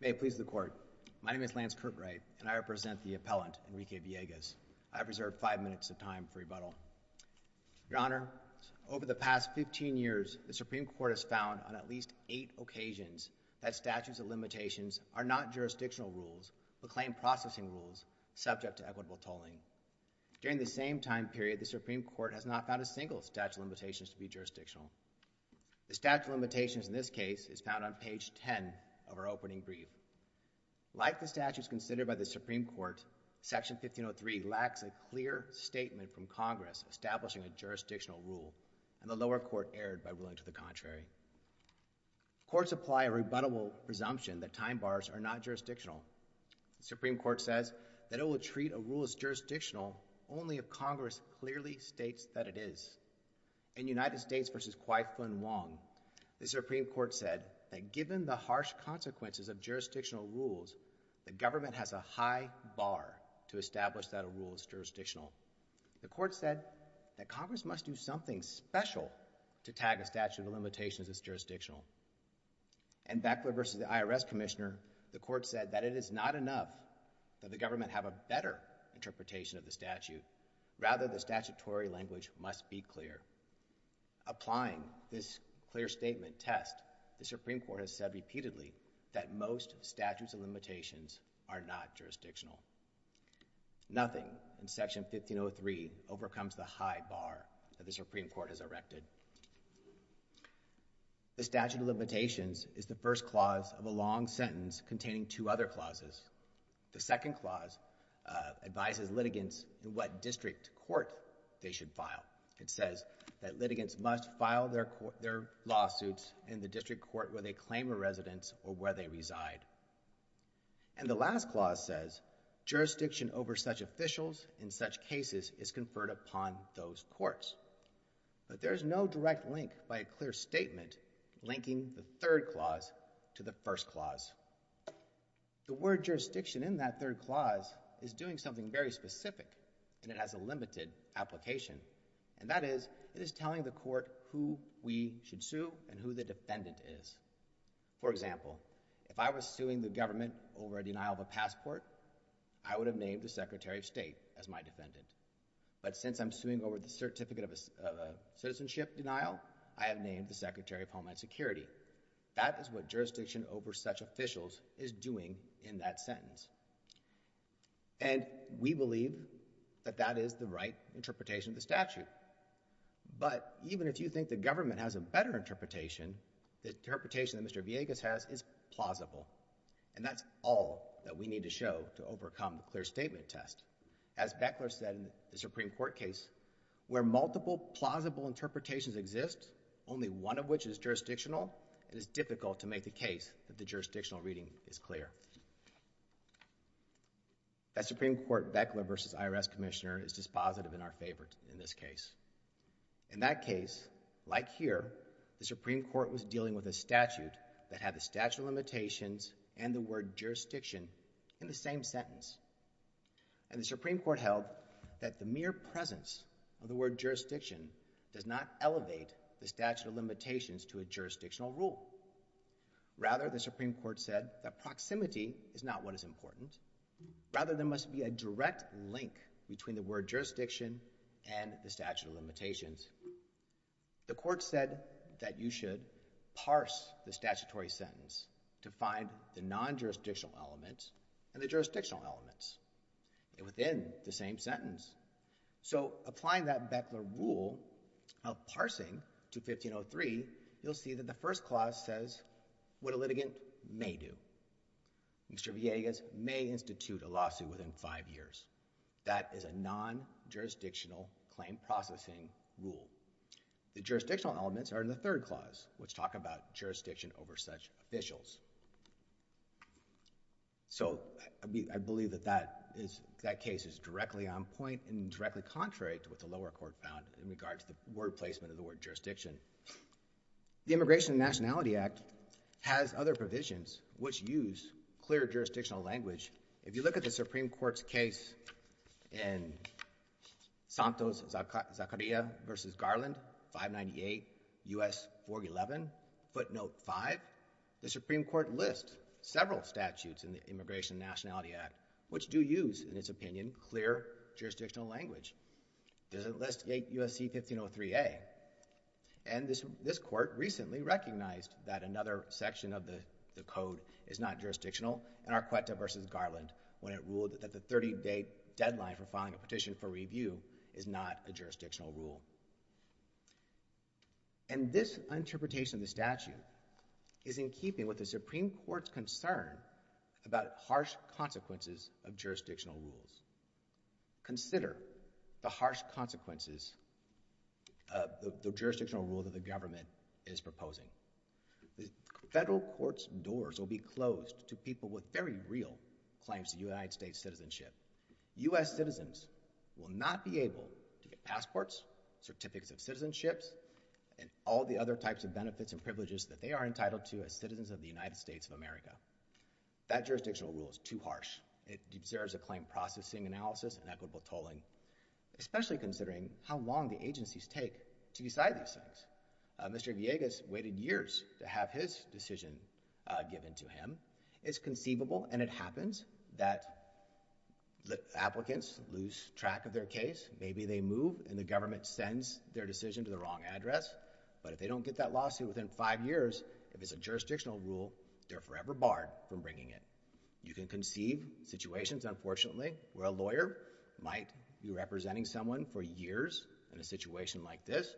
May it please the court. My name is Lance Kirkwright and I represent the appellant Enrique Villegas. I have reserved five minutes of time for rebuttal. Your Honor, over the past fifteen years the Supreme Court has found on at least eight occasions that statutes of limitations are not jurisdictional rules but claim processing rules subject to equitable tolling. During the same time period the Supreme Court has not found a single statute of limitations to be jurisdictional. The statute of limitations in this case is found on page ten of our opening brief. Like the statutes considered by the Supreme Court, section 1503 lacks a clear statement from Congress establishing a jurisdictional rule and the lower court erred by ruling to the contrary. Courts apply a rebuttable presumption that time bars are not jurisdictional. The Supreme Court says that it will treat a rule as jurisdictional only if Congress clearly states that it is. In United States v. Kwai-Fung Wong, the Supreme Court said that given the harsh consequences of jurisdictional rules, the government has a high bar to establish that a rule is jurisdictional. The court said that Congress must do something special to tag a statute of limitations as jurisdictional. In Beckler v. the IRS Commissioner, the court said that it is not enough that the government have a better interpretation of the statute, rather the statutory language must be clear. Applying this clear statement test, the Supreme Court stated that most statutes of limitations are not jurisdictional. Nothing in section 1503 overcomes the high bar that the Supreme Court has erected. The statute of limitations is the first clause of a long sentence containing two other clauses. The second clause advises litigants in what district court they should file. It says that litigants must file their lawsuits in the district court where they claim a residence or where they reside. And the last clause says jurisdiction over such officials in such cases is conferred upon those courts. But there is no direct link by a clear statement linking the third clause to the first clause. The word jurisdiction in that third clause is doing something very specific and it has a limited application. And that is, it is telling the court who we should sue and who the defendant is. For example, if I was suing the government over a denial of a passport, I would have named the Secretary of State as my defendant. But since I'm suing over the certificate of a citizenship denial, I have named the Secretary of Homeland Security. That is what jurisdiction over such officials is doing in that sentence. And we believe that that is the right interpretation of the statute. But even if you think the government has a better interpretation, the interpretation that Mr. Villegas has is plausible. And that's all that we need to show to overcome the clear statement test. As Beckler said in the Supreme Court case, where multiple plausible interpretations exist, only one of which is jurisdictional, it is difficult to make the case that the jurisdictional reading is clear. That Supreme Court Beckler v. IRS Commissioner is dispositive in our favor in this case. In that case, like here, the Supreme Court was dealing with a statute that had the statute of limitations and the word jurisdiction in the same sentence. And the Supreme Court held that the mere presence of the word jurisdiction does not elevate the statute of limitations to a jurisdictional rule. Rather, the Supreme Court said that proximity is not what is important. Rather, there must be a direct link between the word jurisdiction and the statute of limitations. The court said that you should parse the statutory sentence to find the non-jurisdictional elements and the jurisdictional elements within the same sentence. So applying that Beckler rule of parsing to 1503, you'll see that the first clause says what a litigant may do. Mr. Villegas may institute a lawsuit within five years. That is a non-jurisdictional claim processing rule. The jurisdictional elements are in the third clause, which talk about jurisdiction over such officials. So I believe that that case is directly on point and directly contrary to what the lower court found in regards to the word placement of the word jurisdiction. The Immigration and Nationality Act has other provisions which use clear jurisdictional language. If you look at the Supreme Court's case in Santos-Zacaria v. Garland, 598 U.S. 411, footnote 5, the Supreme Court lists several statutes in the Immigration and Nationality Act which do use, in its opinion, clear jurisdictional language. It doesn't list USC 1503A. And this court recently recognized that another section of the code is not jurisdictional in Arcueta v. Garland, when it ruled that the 30-day deadline for filing a petition for review is not a jurisdictional rule. And this interpretation of the statute is in keeping with the Supreme Court's concern about harsh consequences of jurisdictional rules. Consider the harsh consequences of the jurisdictional rule that the government is proposing. The federal court's doors will be closed to people with very real claims to United States citizenship. U.S. citizens will not be able to get passports, certificates of citizenships, and all the other types of benefits and privileges that they are entitled to as citizens of the United States of America. That jurisdictional rule is too harsh. It deserves acclaimed processing analysis and equitable tolling, especially considering how long the agencies take to decide these things. Mr. Villegas waited years to have his decision given to him. It's conceivable, and it happens, that applicants lose track of their case. Maybe they move and the government sends their decision to the wrong address. But if they don't get that lawsuit within five years, if it's a jurisdictional rule, they're forever barred from bringing it. You can conceive situations, unfortunately, where a lawyer might be representing someone for years in a situation like this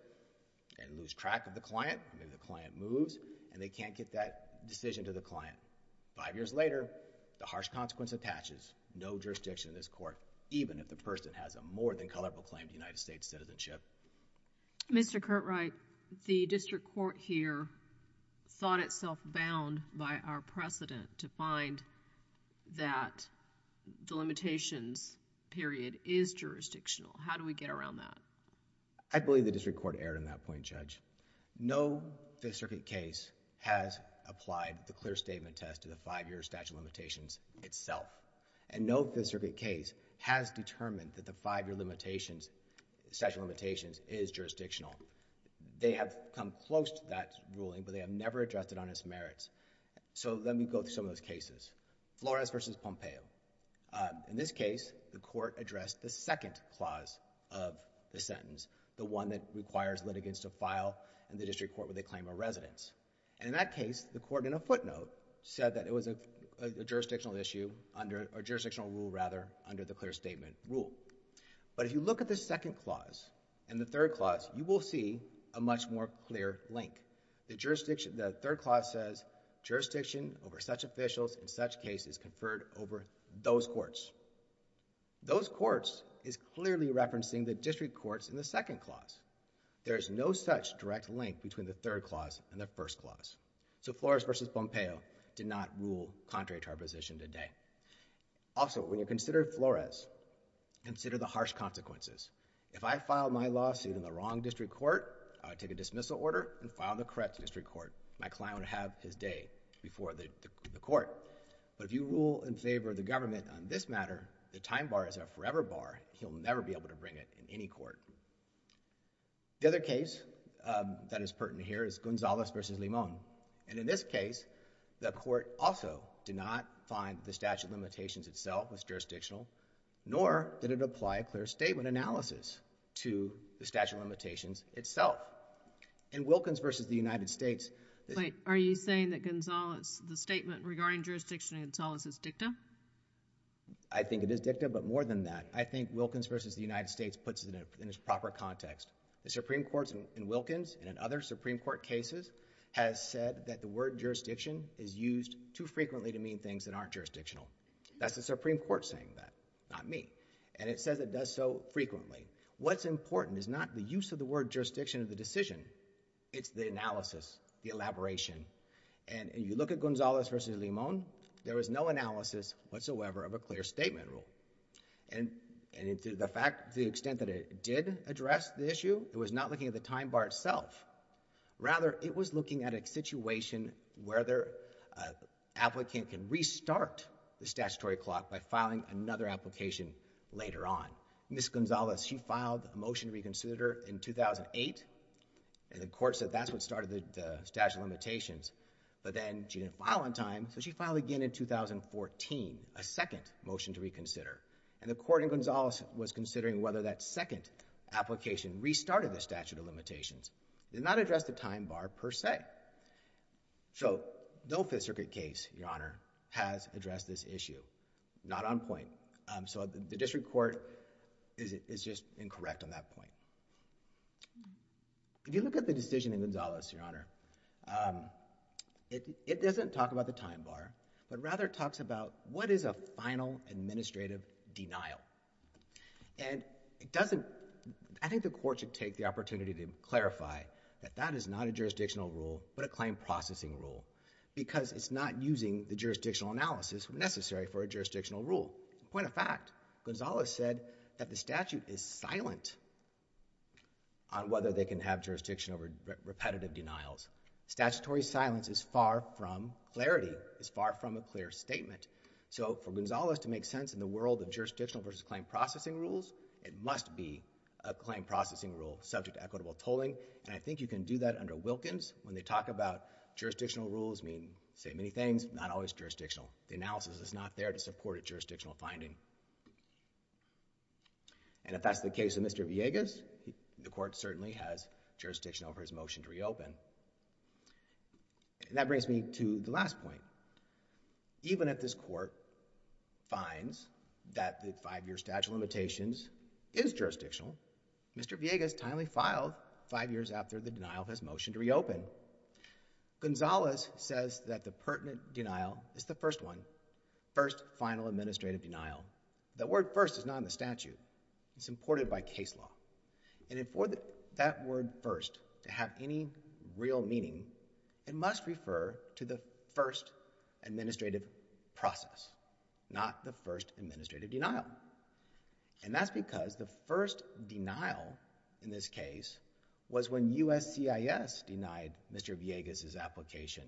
and lose track of the client. Maybe the client moves and they can't get that decision to the client. Five years later, the harsh consequence attaches. No jurisdiction in this court, even if the person has a more than color proclaimed United States citizenship. Mr. Curtright, the district court here thought itself bound by our precedent to find that the limitations period is jurisdictional. How do we go around that? I believe the district court erred on that point, Judge. No Fifth Circuit case has applied the clear statement test to the five-year statute of limitations itself. And no Fifth Circuit case has determined that the five-year statute of limitations is jurisdictional. They have come close to that ruling, but they have never addressed it on its merits. So let me go through some of those cases. Flores versus Pompeo. In this case, the court addressed the second clause of the sentence, the one that requires litigants to file in the district court where they claim a residence. And in that case, the court, in a footnote, said that it was a jurisdictional issue under a jurisdictional rule, rather, under the clear statement rule. But if you look at the second clause and the third clause, you will see a much more clear link. The jurisdiction, the third clause says, jurisdiction over such officials in such cases conferred over those courts. Those courts is clearly referencing the district courts in the second clause. There is no such direct link between the third clause and the first clause. So Flores versus Pompeo did not rule contrary to our position today. Also, when you consider Flores, consider the harsh consequences. If I filed my lawsuit in the wrong district court, I would take a dismissal order and file in the correct district court. My client would have his day before the court. But if you rule in favor of the government on this matter, the time bar is a forever bar. He'll never be able to bring it in any court. The other case that is pertinent here is Gonzalez versus Limon. And in this case, the court also did not find the statute of limitations itself was jurisdictional, nor did it apply a clear statement analysis to the statute of limitations itself. In Wilkins versus the United States— Are you saying that Gonzalez, the statement regarding jurisdiction in Gonzalez is dicta? I think it is dicta, but more than that, I think Wilkins versus the United States puts it in its proper context. The Supreme Court in Wilkins and in other Supreme Court cases has said that the word jurisdiction is used too frequently to mean things that aren't jurisdictional. That's the Supreme Court saying that, not me. And it says it does so frequently. What's important is not the use of the word jurisdiction of the decision. It's the analysis, the elaboration. And if you look at Gonzalez versus Limon, there was no analysis whatsoever of a clear statement rule. And to the extent that it did address the issue, it was not looking at the time bar itself. Rather, it was looking at a situation where the applicant can restart the statutory clock by filing another application later on. Ms. Gonzalez, she filed a motion to reconsider in 2008, and the court said that's what started the statute of limitations. But then she didn't file on time, so she filed again in 2014, a second motion to reconsider. And the court in Gonzalez was considering whether that second application restarted the statute of limitations. It did not address the time bar per se. So no Fifth Circuit case, Your Honor, has addressed this issue. Not on point. So the district court is just incorrect on that point. If you look at the decision in Gonzalez, Your Honor, it doesn't talk about the time bar, but rather talks about what is a final administrative denial. And it doesn't, I think the court should take the opportunity to clarify that that is not a jurisdictional rule, but a claim processing rule. Because it's not using the jurisdictional analysis necessary for a jurisdictional rule. Point of fact, Gonzalez said that the statute is silent on whether they can have jurisdiction over repetitive denials. Statutory silence is far from clarity, is far from a clear statement. So for Gonzalez to make sense in the world of jurisdictional versus claim processing rules, it must be a claim processing rule subject to equitable tolling. And I think you can do that under Wilkins. When they talk about jurisdictional rules, I mean, say many things, not always jurisdictional. The analysis is not there to support a jurisdictional finding. And if that's the case of Mr. Villegas, the court certainly has jurisdiction over his motion to reopen. And that brings me to the last point. Even if this court finds that the five-year statute of limitations is jurisdictional, Mr. Villegas timely filed five years after the denial of his motion to reopen. Gonzalez says that the pertinent denial is the first one, first final administrative denial. The word first is not in the statute. It's imported by case law. And for that word first to have any real meaning, it must refer to the first administrative process, not the first administrative denial. And that's because the first denial in this case was when USCIS denied Mr. Villegas's application.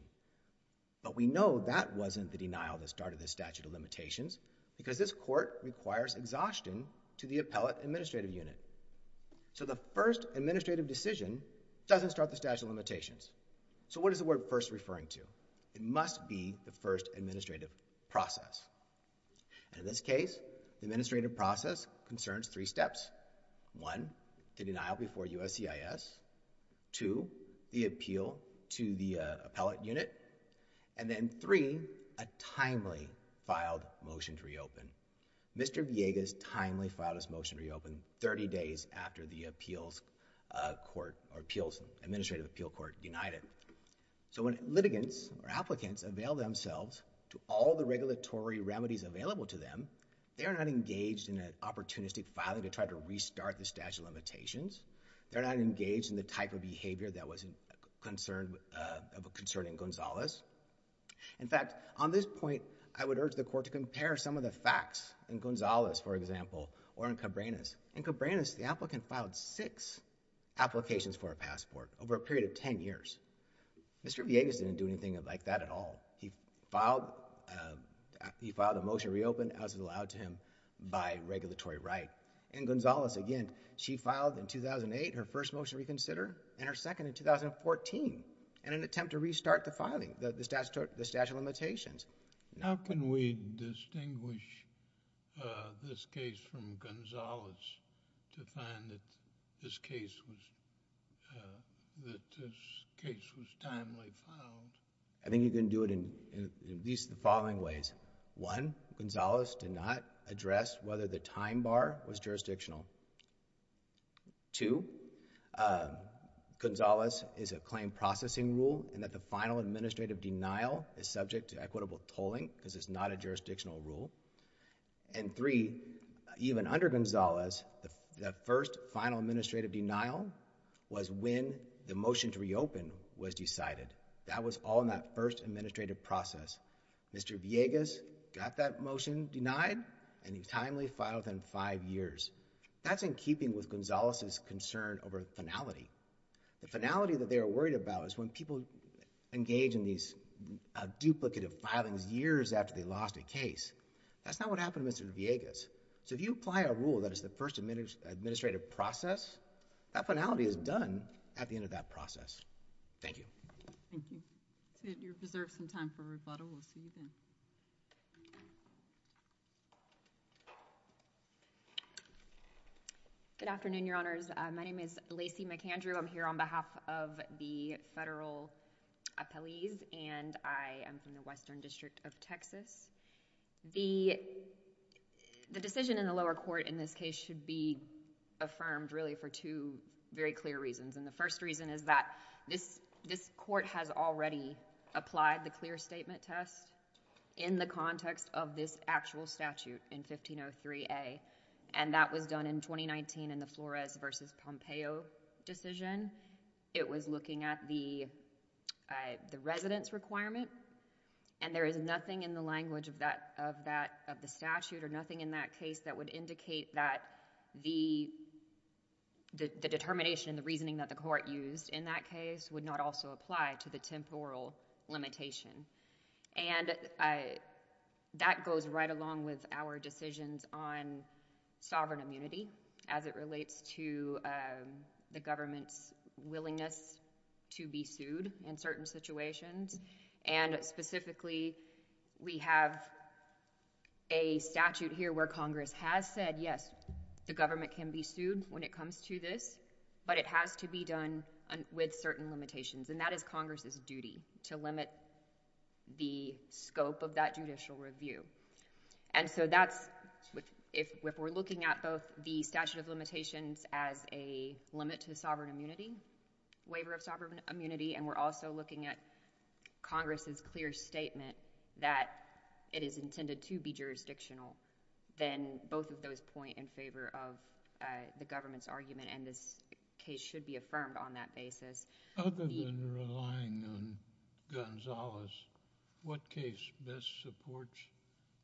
But we know that wasn't the denial that started the statute of limitations because this court requires exhaustion to the appellate administrative unit. So the first administrative decision doesn't start the statute of limitations. So what is the word first referring to? It is the administrative process concerns three steps. One, the denial before USCIS. Two, the appeal to the appellate unit. And then three, a timely filed motion to reopen. Mr. Villegas timely filed his motion to reopen 30 days after the appeals court or appeals administrative appeal court denied it. So when litigants or applicants avail themselves to all the regulatory remedies available to them, they're not engaged in an opportunistic filing to try to restart the statute of limitations. They're not engaged in the type of behavior that was concerned in Gonzalez. In fact, on this point, I would urge the court to compare some of the facts in Gonzalez, for example, or in Cabrenas. In Cabrenas, the applicant filed six applications for a passport over a period of 10 years. Mr. Villegas didn't do anything like that at all. He filed a motion to reopen as was allowed to him by regulatory right. And Gonzalez, again, she filed in 2008 her first motion to reconsider and her second in 2014 in an attempt to restart the filing, the statute of limitations. Now can we distinguish this case from Gonzalez to find that this case was timely filed? I think you can do it in at least the following ways. One, Gonzalez did not address whether the time bar was jurisdictional. Two, Gonzalez is a claim processing rule and that the final administrative denial is subject to equitable tolling because it's not a jurisdictional rule. And three, even under Gonzalez, the first final administrative denial was when the motion to reopen was decided. That was all in that first administrative process. Mr. Villegas got that motion denied and he timely filed within five years. That's in keeping with Gonzalez's concern over finality. The finality that they were worried about is when people engage in these duplicative filings years after they lost a case. That's not what happened to Mr. Villegas. So if you apply a rule that is the first administrative process, that finality is done at the end of that process. Thank you. Thank you. You deserve some time for rebuttal. We'll see you then. Good afternoon, Your Honors. My name is Lacey McAndrew. I'm here on behalf of the federal appellees and I am from the Western District of Texas. The decision in the lower court in this case should be affirmed really for two very clear reasons. And the first reason is that this court has already applied the clear statement test in the context of this actual statute in 1503A. And that was done in 2019 in the Flores v. Pompeo decision. It was looking at the residence requirement. And there is nothing in the language of the statute or nothing in that case that would indicate that the determination, the reasoning that the court used in that case would not also apply to the temporal limitation. And that goes right along with our decisions on sovereign immunity as it relates to the government's willingness to be sued in certain situations. And specifically, we have a decision that a statute here where Congress has said, yes, the government can be sued when it comes to this, but it has to be done with certain limitations. And that is Congress's duty to limit the scope of that judicial review. And so that's, if we're looking at both the statute of limitations as a limit to sovereign immunity, waiver of sovereign immunity, and we're also looking at Congress's clear statement that it is intended to be jurisdictional, then both of those point in favor of the government's argument. And this case should be affirmed on that basis. Other than relying on Gonzales, what case best supports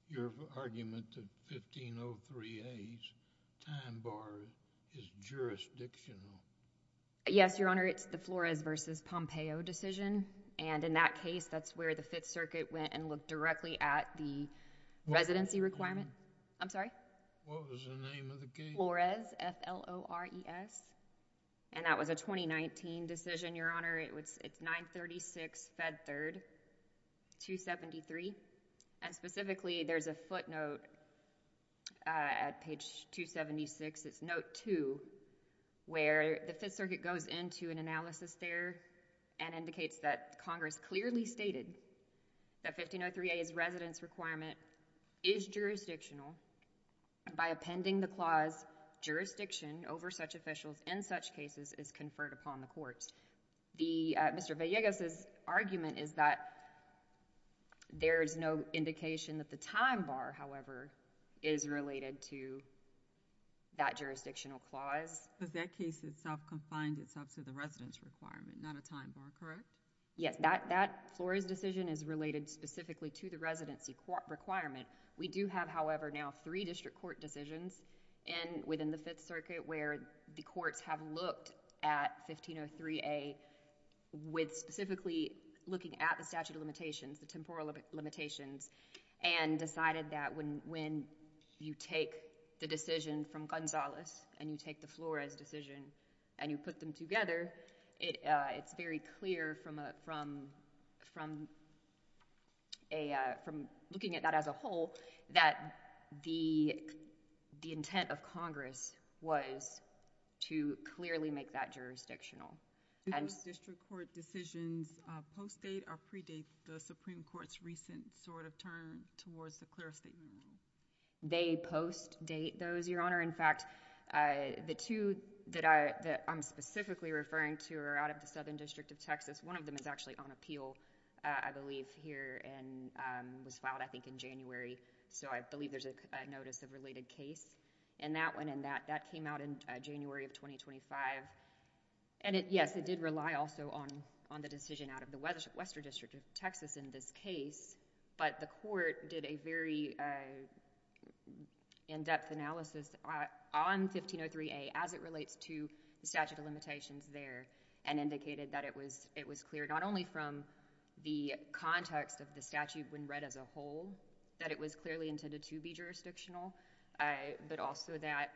your argument that 1503A's time bar is jurisdictional? Yes, Your Honor. It's the Flores v. Pompeo decision. And in that case, that's where the Fifth Circuit went and looked directly at the residency requirement. I'm sorry? What was the name of the case? Flores, F-L-O-R-E-S. And that was a 2019 decision, Your Honor. It's 936 Fed Third 273. And specifically, there's a footnote at page 276, it's note 2, where the Fifth Circuit goes into an analysis there and indicates that Congress clearly stated that 1503A's residence requirement is jurisdictional. By appending the clause, jurisdiction over such officials in such cases is conferred upon the courts. Mr. Villegas' argument is that there is no indication that the time bar, however, is related to that jurisdictional clause. But that case itself confined itself to the residence requirement, not a time bar, correct? Yes. That Flores decision is related specifically to the residency requirement. We do have, however, now three district court decisions within the Fifth Circuit where the courts have looked at 1503A with specifically looking at the statute of limitations, the temporal limitations, and decided that when you take the decision from Gonzales and you take the Flores decision and you put them together, it's very clear from looking at that as a whole that the intent of Congress was to clearly make that jurisdictional. Do those district court decisions post-date or pre-date the Supreme Court's recent sort of turn towards the clear statement rule? They post-date those, Your Honor. In fact, the two that I'm specifically referring to are out of the Southern District of Texas. One of them is actually on appeal, I believe, here and was filed, I think, in January. So I believe there's a notice of related case in that one and that came out in January of 2025. Yes, it did rely also on the decision out of the Western District of Texas in this case, but the court did a very in-depth analysis on 1503A as it relates to the statute of limitations there and indicated that it was clear not only from the context of the statute when read as a whole, that it was clearly intended to be jurisdictional, but also that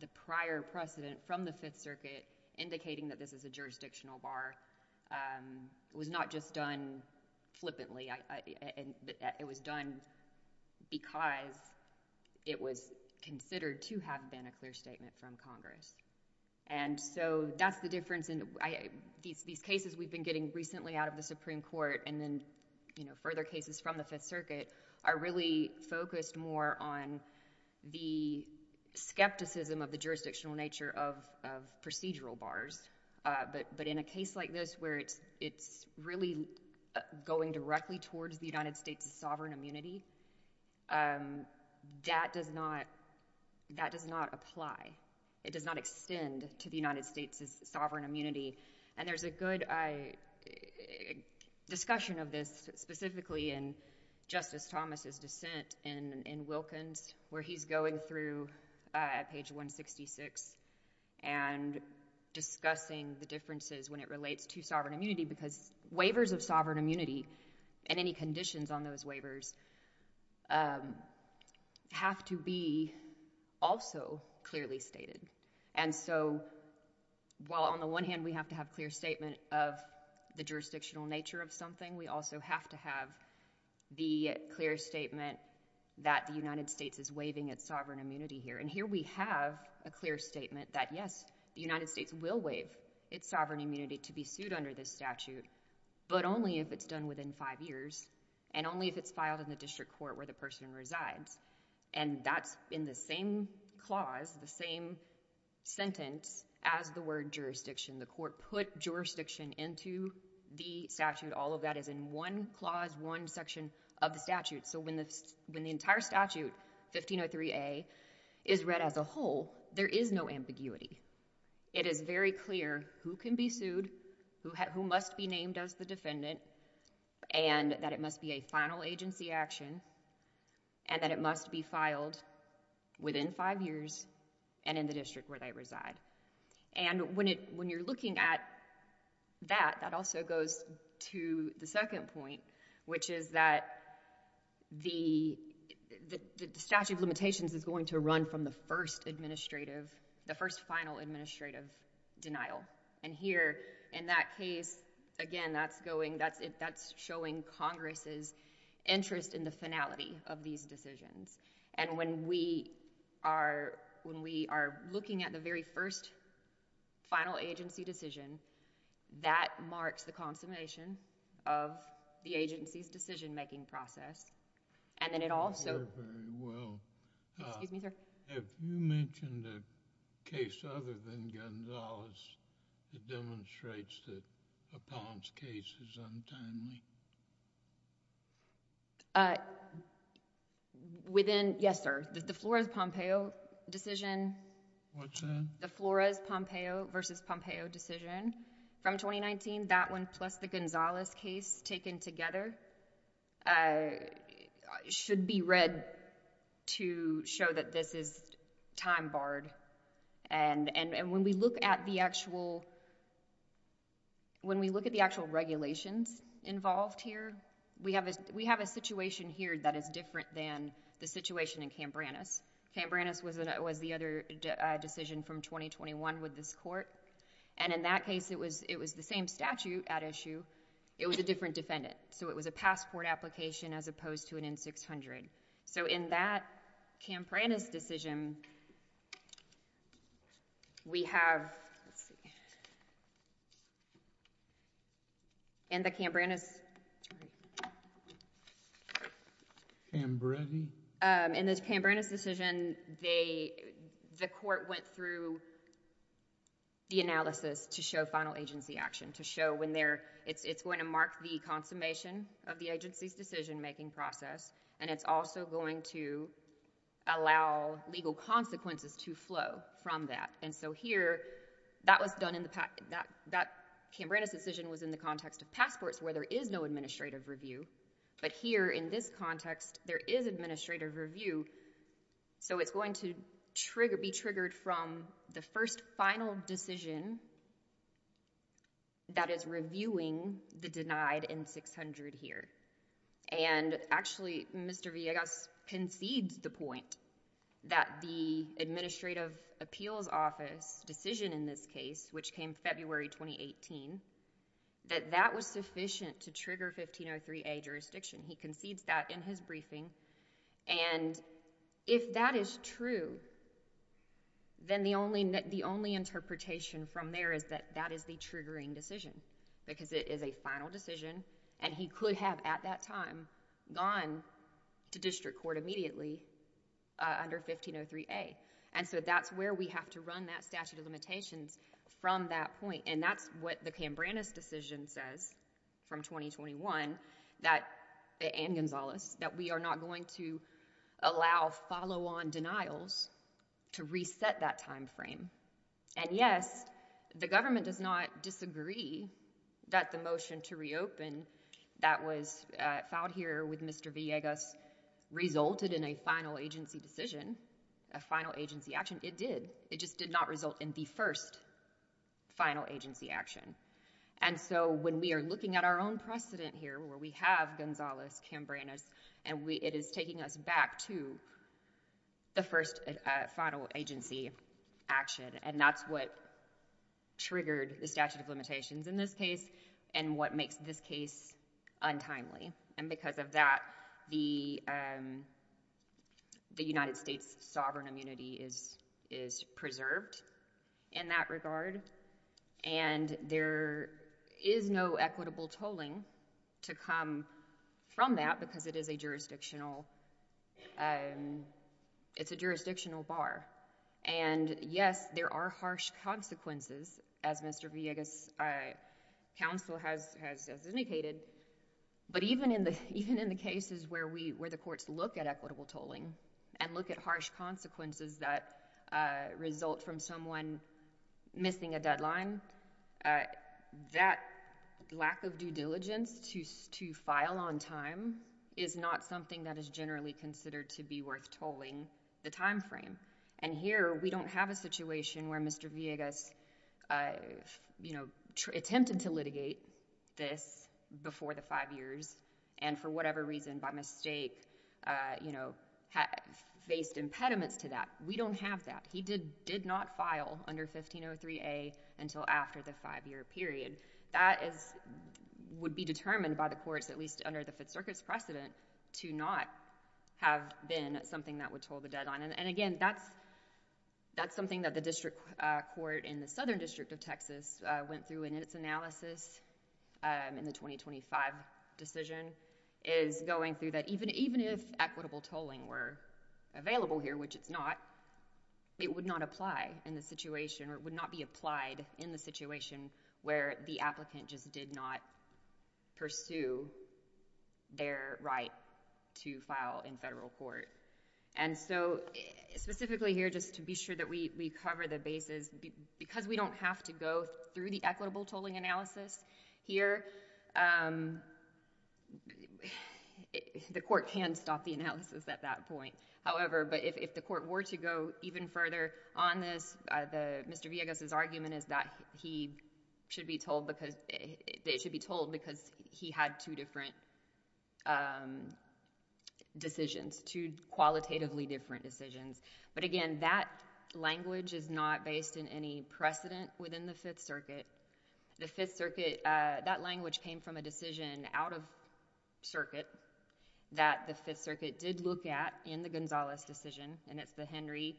the prior precedent from the Fifth Circuit indicating that this is a jurisdictional bar was not just done flippantly. It was done because it was considered to have been a clear statement from Congress. And so that's the difference. These cases we've been getting recently out of the Supreme Court, they're really focused more on the skepticism of the jurisdictional nature of procedural bars, but in a case like this where it's really going directly towards the United States' sovereign immunity, that does not apply. It does not extend to the United States' sovereign immunity, and there's a good discussion of this specifically in Justice Thomas' dissent in Wilkins where he's going through at page 166 and discussing the differences when it relates to sovereign immunity because waivers of sovereign immunity and any conditions on those waivers have to be also clearly stated. And so while on the one hand we have to have clear statement of the jurisdictional nature of something, we also have to have the clear statement that the United States is waiving its sovereign immunity here. And here we have a clear statement that yes, the United States will waive its sovereign immunity to be sued under this statute, but only if it's done within five years and only if it's filed in the district court where the person resides. And that's in the same clause, the same sentence as the word jurisdiction. The court put jurisdiction into the statute. All of that is in one clause, one section of the statute. So when the entire statute, 1503A, is read as a whole, there is no ambiguity. It is very clear who can be sued, who must be named as the defendant, and that it must be a final agency action, and that it must be filed within five years and in the district where they reside. And when you're looking at that, that also goes to the second point, which is that the statute of limitations is going to run from the first administrative, the first final administrative denial. And here, in that case, again, that's showing Congress's interest in the finality of these decisions. And when we are looking at the very first final agency decision, that marks the consummation of the agency's decision-making process. And then it also... Very, very well. Excuse me, sir? Have you mentioned a case other than Gonzales that demonstrates that a Palm's case is untimely? Within... yes, sir. The Flores-Pompeo decision... What's that? The Flores-Pompeo versus Pompeo decision from 2019, that one plus the Gonzales case taken together should be read to show that this is time-barred. And when we look at the actual regulations involved here, we have a situation here that is different than the situation in Cambrannus. Cambrannus was the other decision from 2021 with this court. And in that case, it was the same statute at issue. It was a different defendant. So it was a passport application as opposed to an N-600. So in that Cambrannus decision, we have... in the Cambrannus... Cambretti? In the Cambrannus decision, the court went through the analysis to show final agency action, to show when they're... it's going to mark the consummation of the agency's decision-making process, and it's also going to allow legal consequences to flow from that. And so here, that was done in the... that Cambrannus decision was in the context of passports where there is no administrative review. But here, in this context, there is administrative review. So it's going to be triggered from the first final decision that is reviewing the denied N-600 here. And actually, Mr. Villegas concedes the point that the Administrative Appeals Office decision in this case, which came February 2018, that that was sufficient to trigger 1503A jurisdiction. He concedes that in his briefing. And if that is true, then the only interpretation from there is that that is the triggering decision because it is a final decision and he could have, at that time, gone to district court immediately under 1503A. And so that's where we have to run that statute of limitations from that point. And that's what the Cambrannus decision says from 2021 that... and Gonzalez... that we are not going to allow follow-on denials to reset that time frame. And yes, the government does not disagree that the motion to reopen that was filed here with Mr. Villegas resulted in a final agency decision, a final agency action. It did. It just did not result in the first final agency action. And so when we are looking at our own precedent here where we have Gonzalez-Cambrannus and it is taking us back to the first final agency action, and that's what triggered the statute of limitations in this case and what makes this case untimely. And because of that, the United States' sovereign immunity is preserved in that regard. And there is no equitable tolling to come from that because it is a jurisdictional... it's a jurisdictional bar. And yes, there are harsh consequences, as Mr. Villegas' counsel has indicated, but even in the cases where the courts look at equitable tolling and look at harsh consequences that result from someone missing a deadline, that lack of due diligence to file on time is not something that is generally considered to be worth tolling the time frame. And here, we don't have a situation where Mr. Villegas, you know, attempted to litigate this before the five years and for whatever reason, by mistake, you know, faced impediments to that. We don't have that. He did not file under 1503A until after the five-year period. That would be determined by the courts, at least under the Fifth Circuit's precedent, to not have been something that would toll the deadline. And again, that's something that the District Court in the Southern District of Texas went through in its analysis in the 2025 decision, is going through that even if equitable tolling were available here, which it's not, it would not apply in the situation or it would not be applied in the situation where the applicant just did not pursue their right to file in federal court. And so, specifically here, just to be sure that we cover the bases, because we don't have to go through the equitable tolling analysis here, the court can stop the analysis at that point. However, if the court were to go even further on this, Mr. Villegas' argument is that he should be tolled because he had two different decisions, two different decisions qualitatively different decisions. But again, that language is not based in any precedent within the Fifth Circuit. The Fifth Circuit, that language came from a decision out of circuit that the Fifth Circuit did look at in the Gonzalez decision, and it's the Henry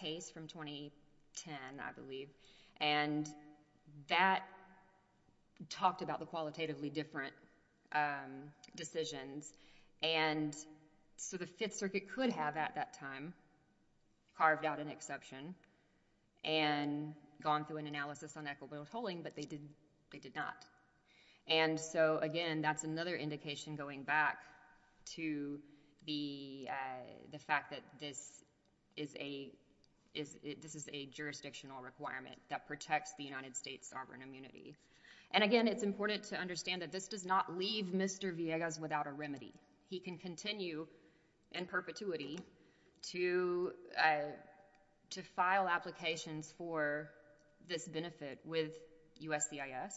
case from 2010, I believe. And that talked about the qualitatively different decisions. And so, the Fifth Circuit could have, at that time, carved out an exception and gone through an analysis on equitable tolling, but they did not. And so, again, that's another indication going back to the fact that this is a jurisdictional requirement that protects the United States sovereign immunity. And again, it's important to understand that this does not leave Mr. Villegas without a remedy. He can continue in perpetuity to file applications for this benefit with USCIS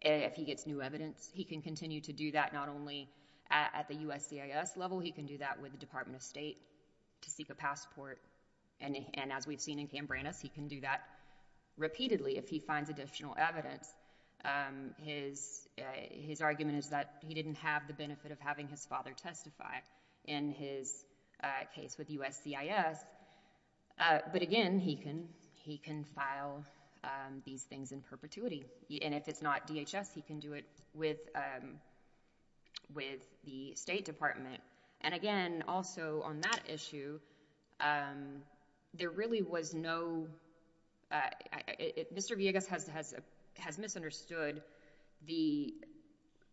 if he gets new evidence. He can continue to do that not only at the USCIS level, he can do that with the Department of State to seek a passport. And as we've seen in Cambranas, he can do that repeatedly if he finds additional evidence. His argument is that he didn't have the benefit of having his father testify in his case with USCIS, but again, he can file these things in perpetuity. And if it's not DHS, he can do it with the State Department. And again, also on that issue, there really was no—Mr. Villegas has misunderstood the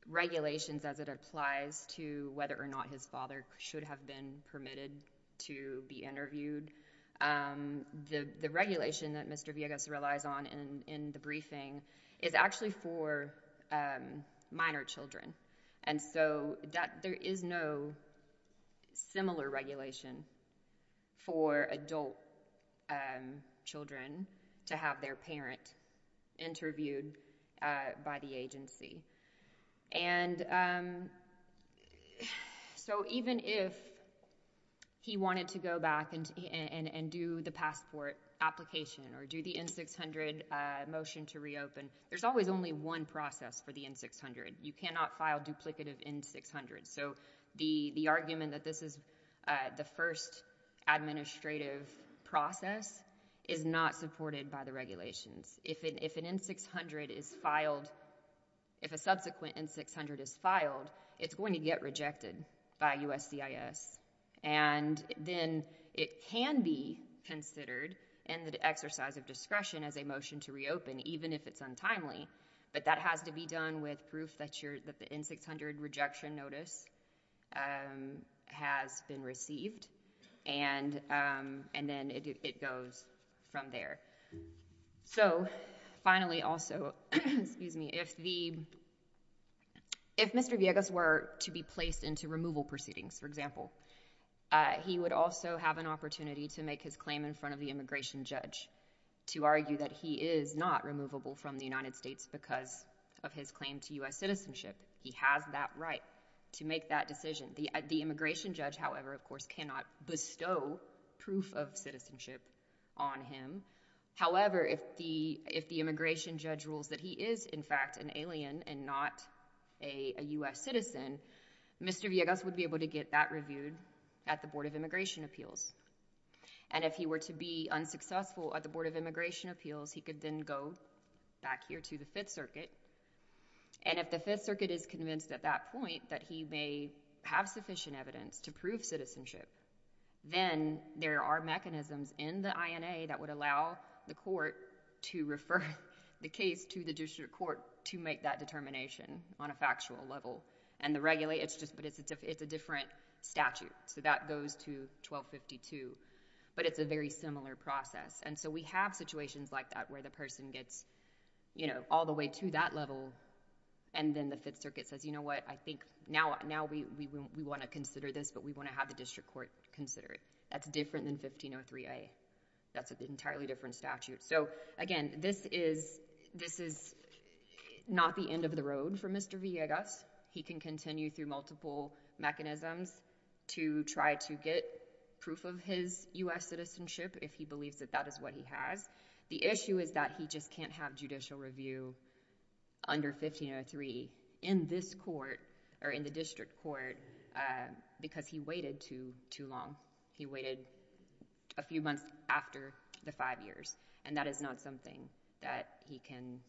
regulations as it applies to whether or not his father should have been permitted to be interviewed. The regulation that Mr. Villegas relies on in the briefing is actually for minor children, and so there is no similar regulation for adult children to have their parent interviewed by the agency. And so even if he wanted to go back and do the passport application or do the N-600 motion to reopen, there's always only one process for the N-600. You cannot file duplicative N-600s. So the argument that this is the first administrative process is not supported by the regulations. If an N-600 is filed—if a subsequent N-600 is filed, it's going to get rejected by USCIS, and then it can be considered in the exercise of discretion as a motion to reopen, even if it's untimely. But that has to be done with proof that the N-600 rejection notice has been received, and then it goes from there. So finally, also, if Mr. Villegas were to be placed into removal proceedings, for example, he would also have an opportunity to make his claim in front of the immigration judge to argue that he is not removable from the United States because of his claim to U.S. citizenship. He has that right to make that decision. The immigration judge, however, of course, cannot bestow proof of citizenship on him. However, if the immigration judge rules that he is, in fact, an alien and not a U.S. citizen, Mr. Villegas would be able to get that reviewed at the Board of Immigration Appeals. And if he were to be unsuccessful at the Board of Immigration Appeals, he could then go back here to the Fifth Circuit. And if the Fifth Circuit is convinced at that point that he may have sufficient evidence to prove citizenship, then there are mechanisms in the INA that would allow the court to refer the case to the district court to make that determination on a factual level. And the regulator—it's a different statute, so that goes to 1252, but it's a very similar process. And so we have situations like that where the person gets, you know, all the way to that level, and then the Fifth Circuit says, you know what, I think now we want to consider this, but we want to have the district court consider it. That's different than 1503A. That's an entirely different statute. So again, this is not the end of the road for Mr. Villegas. He can continue through multiple mechanisms to try to get proof of his U.S. citizenship if he believes that that is what he has. The issue is that he just can't have judicial review under 1503 in this court, or in the district court, because he waited too long. He waited a few months after the five years, and that is not something that he can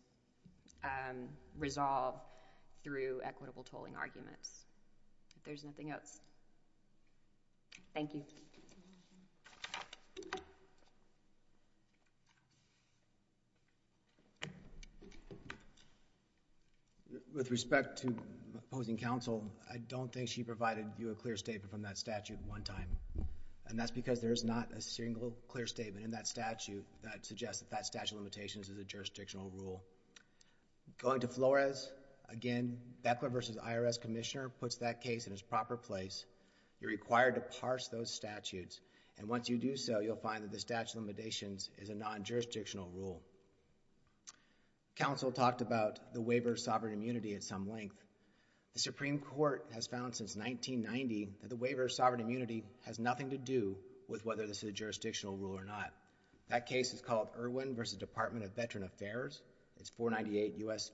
resolve through equitable tolling arguments. If there's nothing else, thank you. With respect to opposing counsel, I don't think she provided you a clear statement from that statute one time, and that's because there is not a single clear statement in that statute that suggests that that statute of limitations is a jurisdictional rule. Going to Flores, again, Beckler v. IRS Commissioner puts that case in its proper place. You're required to parse those statutes, and once you do so, you'll find that the statute of limitations is a non-jurisdictional rule. Counsel talked about the waiver of sovereign immunity at some length. The Supreme Court has found since 1990 that the waiver of sovereign immunity has nothing to do with whether this is a jurisdictional rule or not. That case is called Irwin v. Department of Veteran Affairs. It's 498 U.S.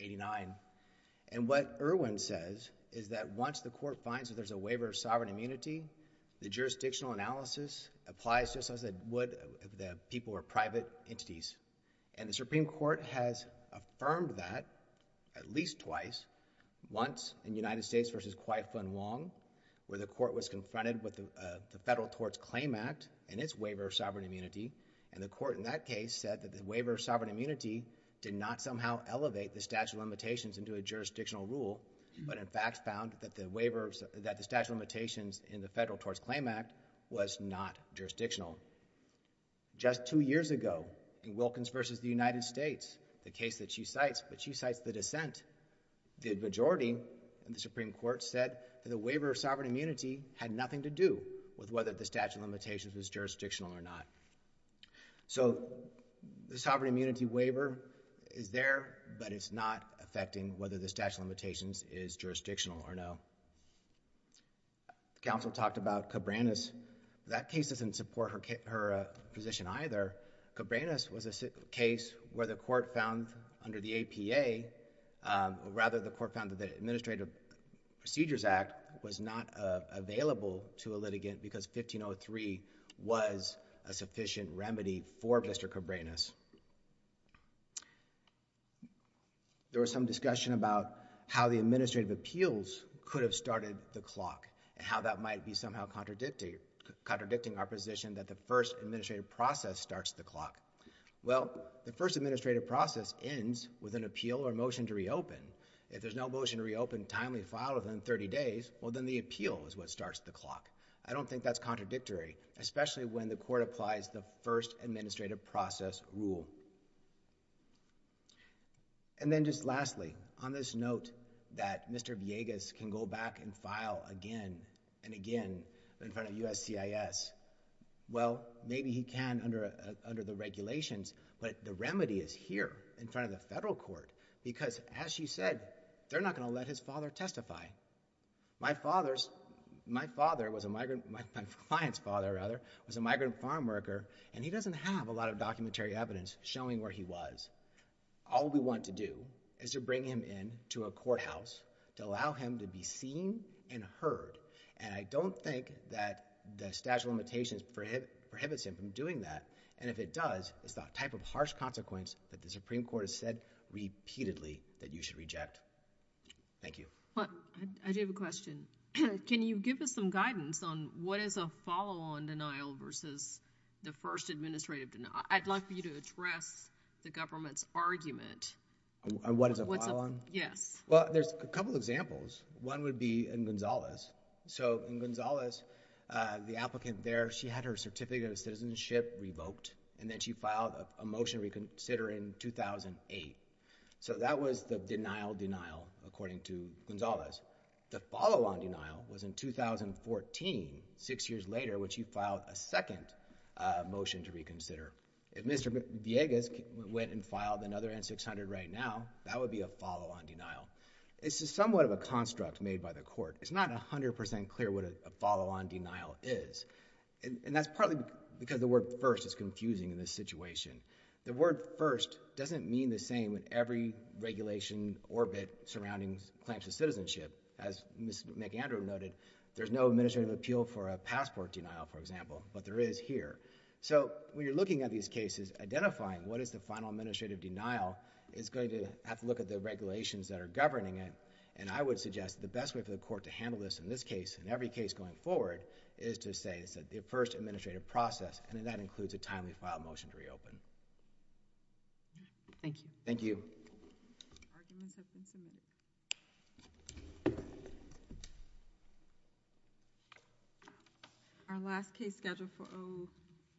89, and what Irwin says is that once the court finds that there's a waiver of sovereign immunity, the jurisdictional analysis applies just as it would if the people were private entities, and the Supreme Court has affirmed that at least twice, once in United States v. Kwai-Fung Wong, where the court was confronted with the Federal Torts Claim Act and its waiver of sovereign immunity, and the court in that case said that the waiver of sovereign immunity did not somehow elevate the statute of limitations into a jurisdictional rule, but in fact found that the waiver, that the statute of limitations in the Federal Torts Claim Act was not jurisdictional. Just two years ago, in Wilkins v. The United States, the case that she cites, but she cites the dissent, the majority in the Supreme Court said that the waiver of sovereign immunity had nothing to do with whether the statute of limitations was jurisdictional or not. So, the sovereign immunity waiver is there, but it's not affecting whether the statute of limitations is jurisdictional or not. Counsel talked about Cabranes. That case doesn't support her position either. Cabranes was a case where the court found under the APA, or rather the court found that the Administrative Procedures Act was not available to a litigant because 1503 was a sufficient remedy for Mr. Cabranes. There was some discussion about how the administrative appeals could have started the clock and how that might be somehow contradicting our position that the first administrative process starts the clock. Well, the first administrative process ends with an appeal or motion to reopen. If there's no motion to reopen timely filed within 30 days, well then the appeal is what starts the clock. I don't think that's contradictory, especially when the court applies the first administrative process rule. And then just lastly, on this note that Mr. Villegas can go back and file again and again in front of USCIS, well, maybe he can under the regulations, but the remedy is here in front of the federal court. Because as she said, they're not going to let his father testify. My father's, my father was a migrant, my client's father, rather, was a migrant farm worker and he doesn't have a lot of documentary evidence showing where he was. All we want to do is to bring him in to a courthouse to allow him to be seen and heard. And I don't think that the statute of limitations prohibits him from doing that. And if it does, it's that type of harsh consequence that the Supreme Court has said repeatedly that you should reject. Thank you. I do have a question. Can you give us some guidance on what is a follow-on denial versus the first administrative denial? I'd like for you to address the government's argument. What is a follow-on? Yes. Well, there's a couple examples. One would be in Gonzales. So in Gonzales, the applicant there, she had her certificate of citizenship revoked and then she filed a motion reconsider in 2008. So that was the denial-denial, according to Gonzales. The follow-on denial was in 2014, six years later, when she filed a second motion to reconsider. If Mr. Villegas went and filed another N-600 right now, that would be a follow-on denial. It's somewhat of a construct made by the court. But it's not 100% clear what a follow-on denial is. And that's partly because the word first is confusing in this situation. The word first doesn't mean the same in every regulation orbit surrounding claims to citizenship. As Ms. McAndrew noted, there's no administrative appeal for a passport denial, for example, but there is here. So when you're looking at these cases, identifying what is the final administrative denial is going to have to look at the regulations that are governing it. And I would suggest the best way for the court to handle this in this case, in every case going forward, is to say it's the first administrative process, and that includes a timely file motion to reopen. Thank you. Thank you. Arguments have been submitted. Our last case scheduled for O…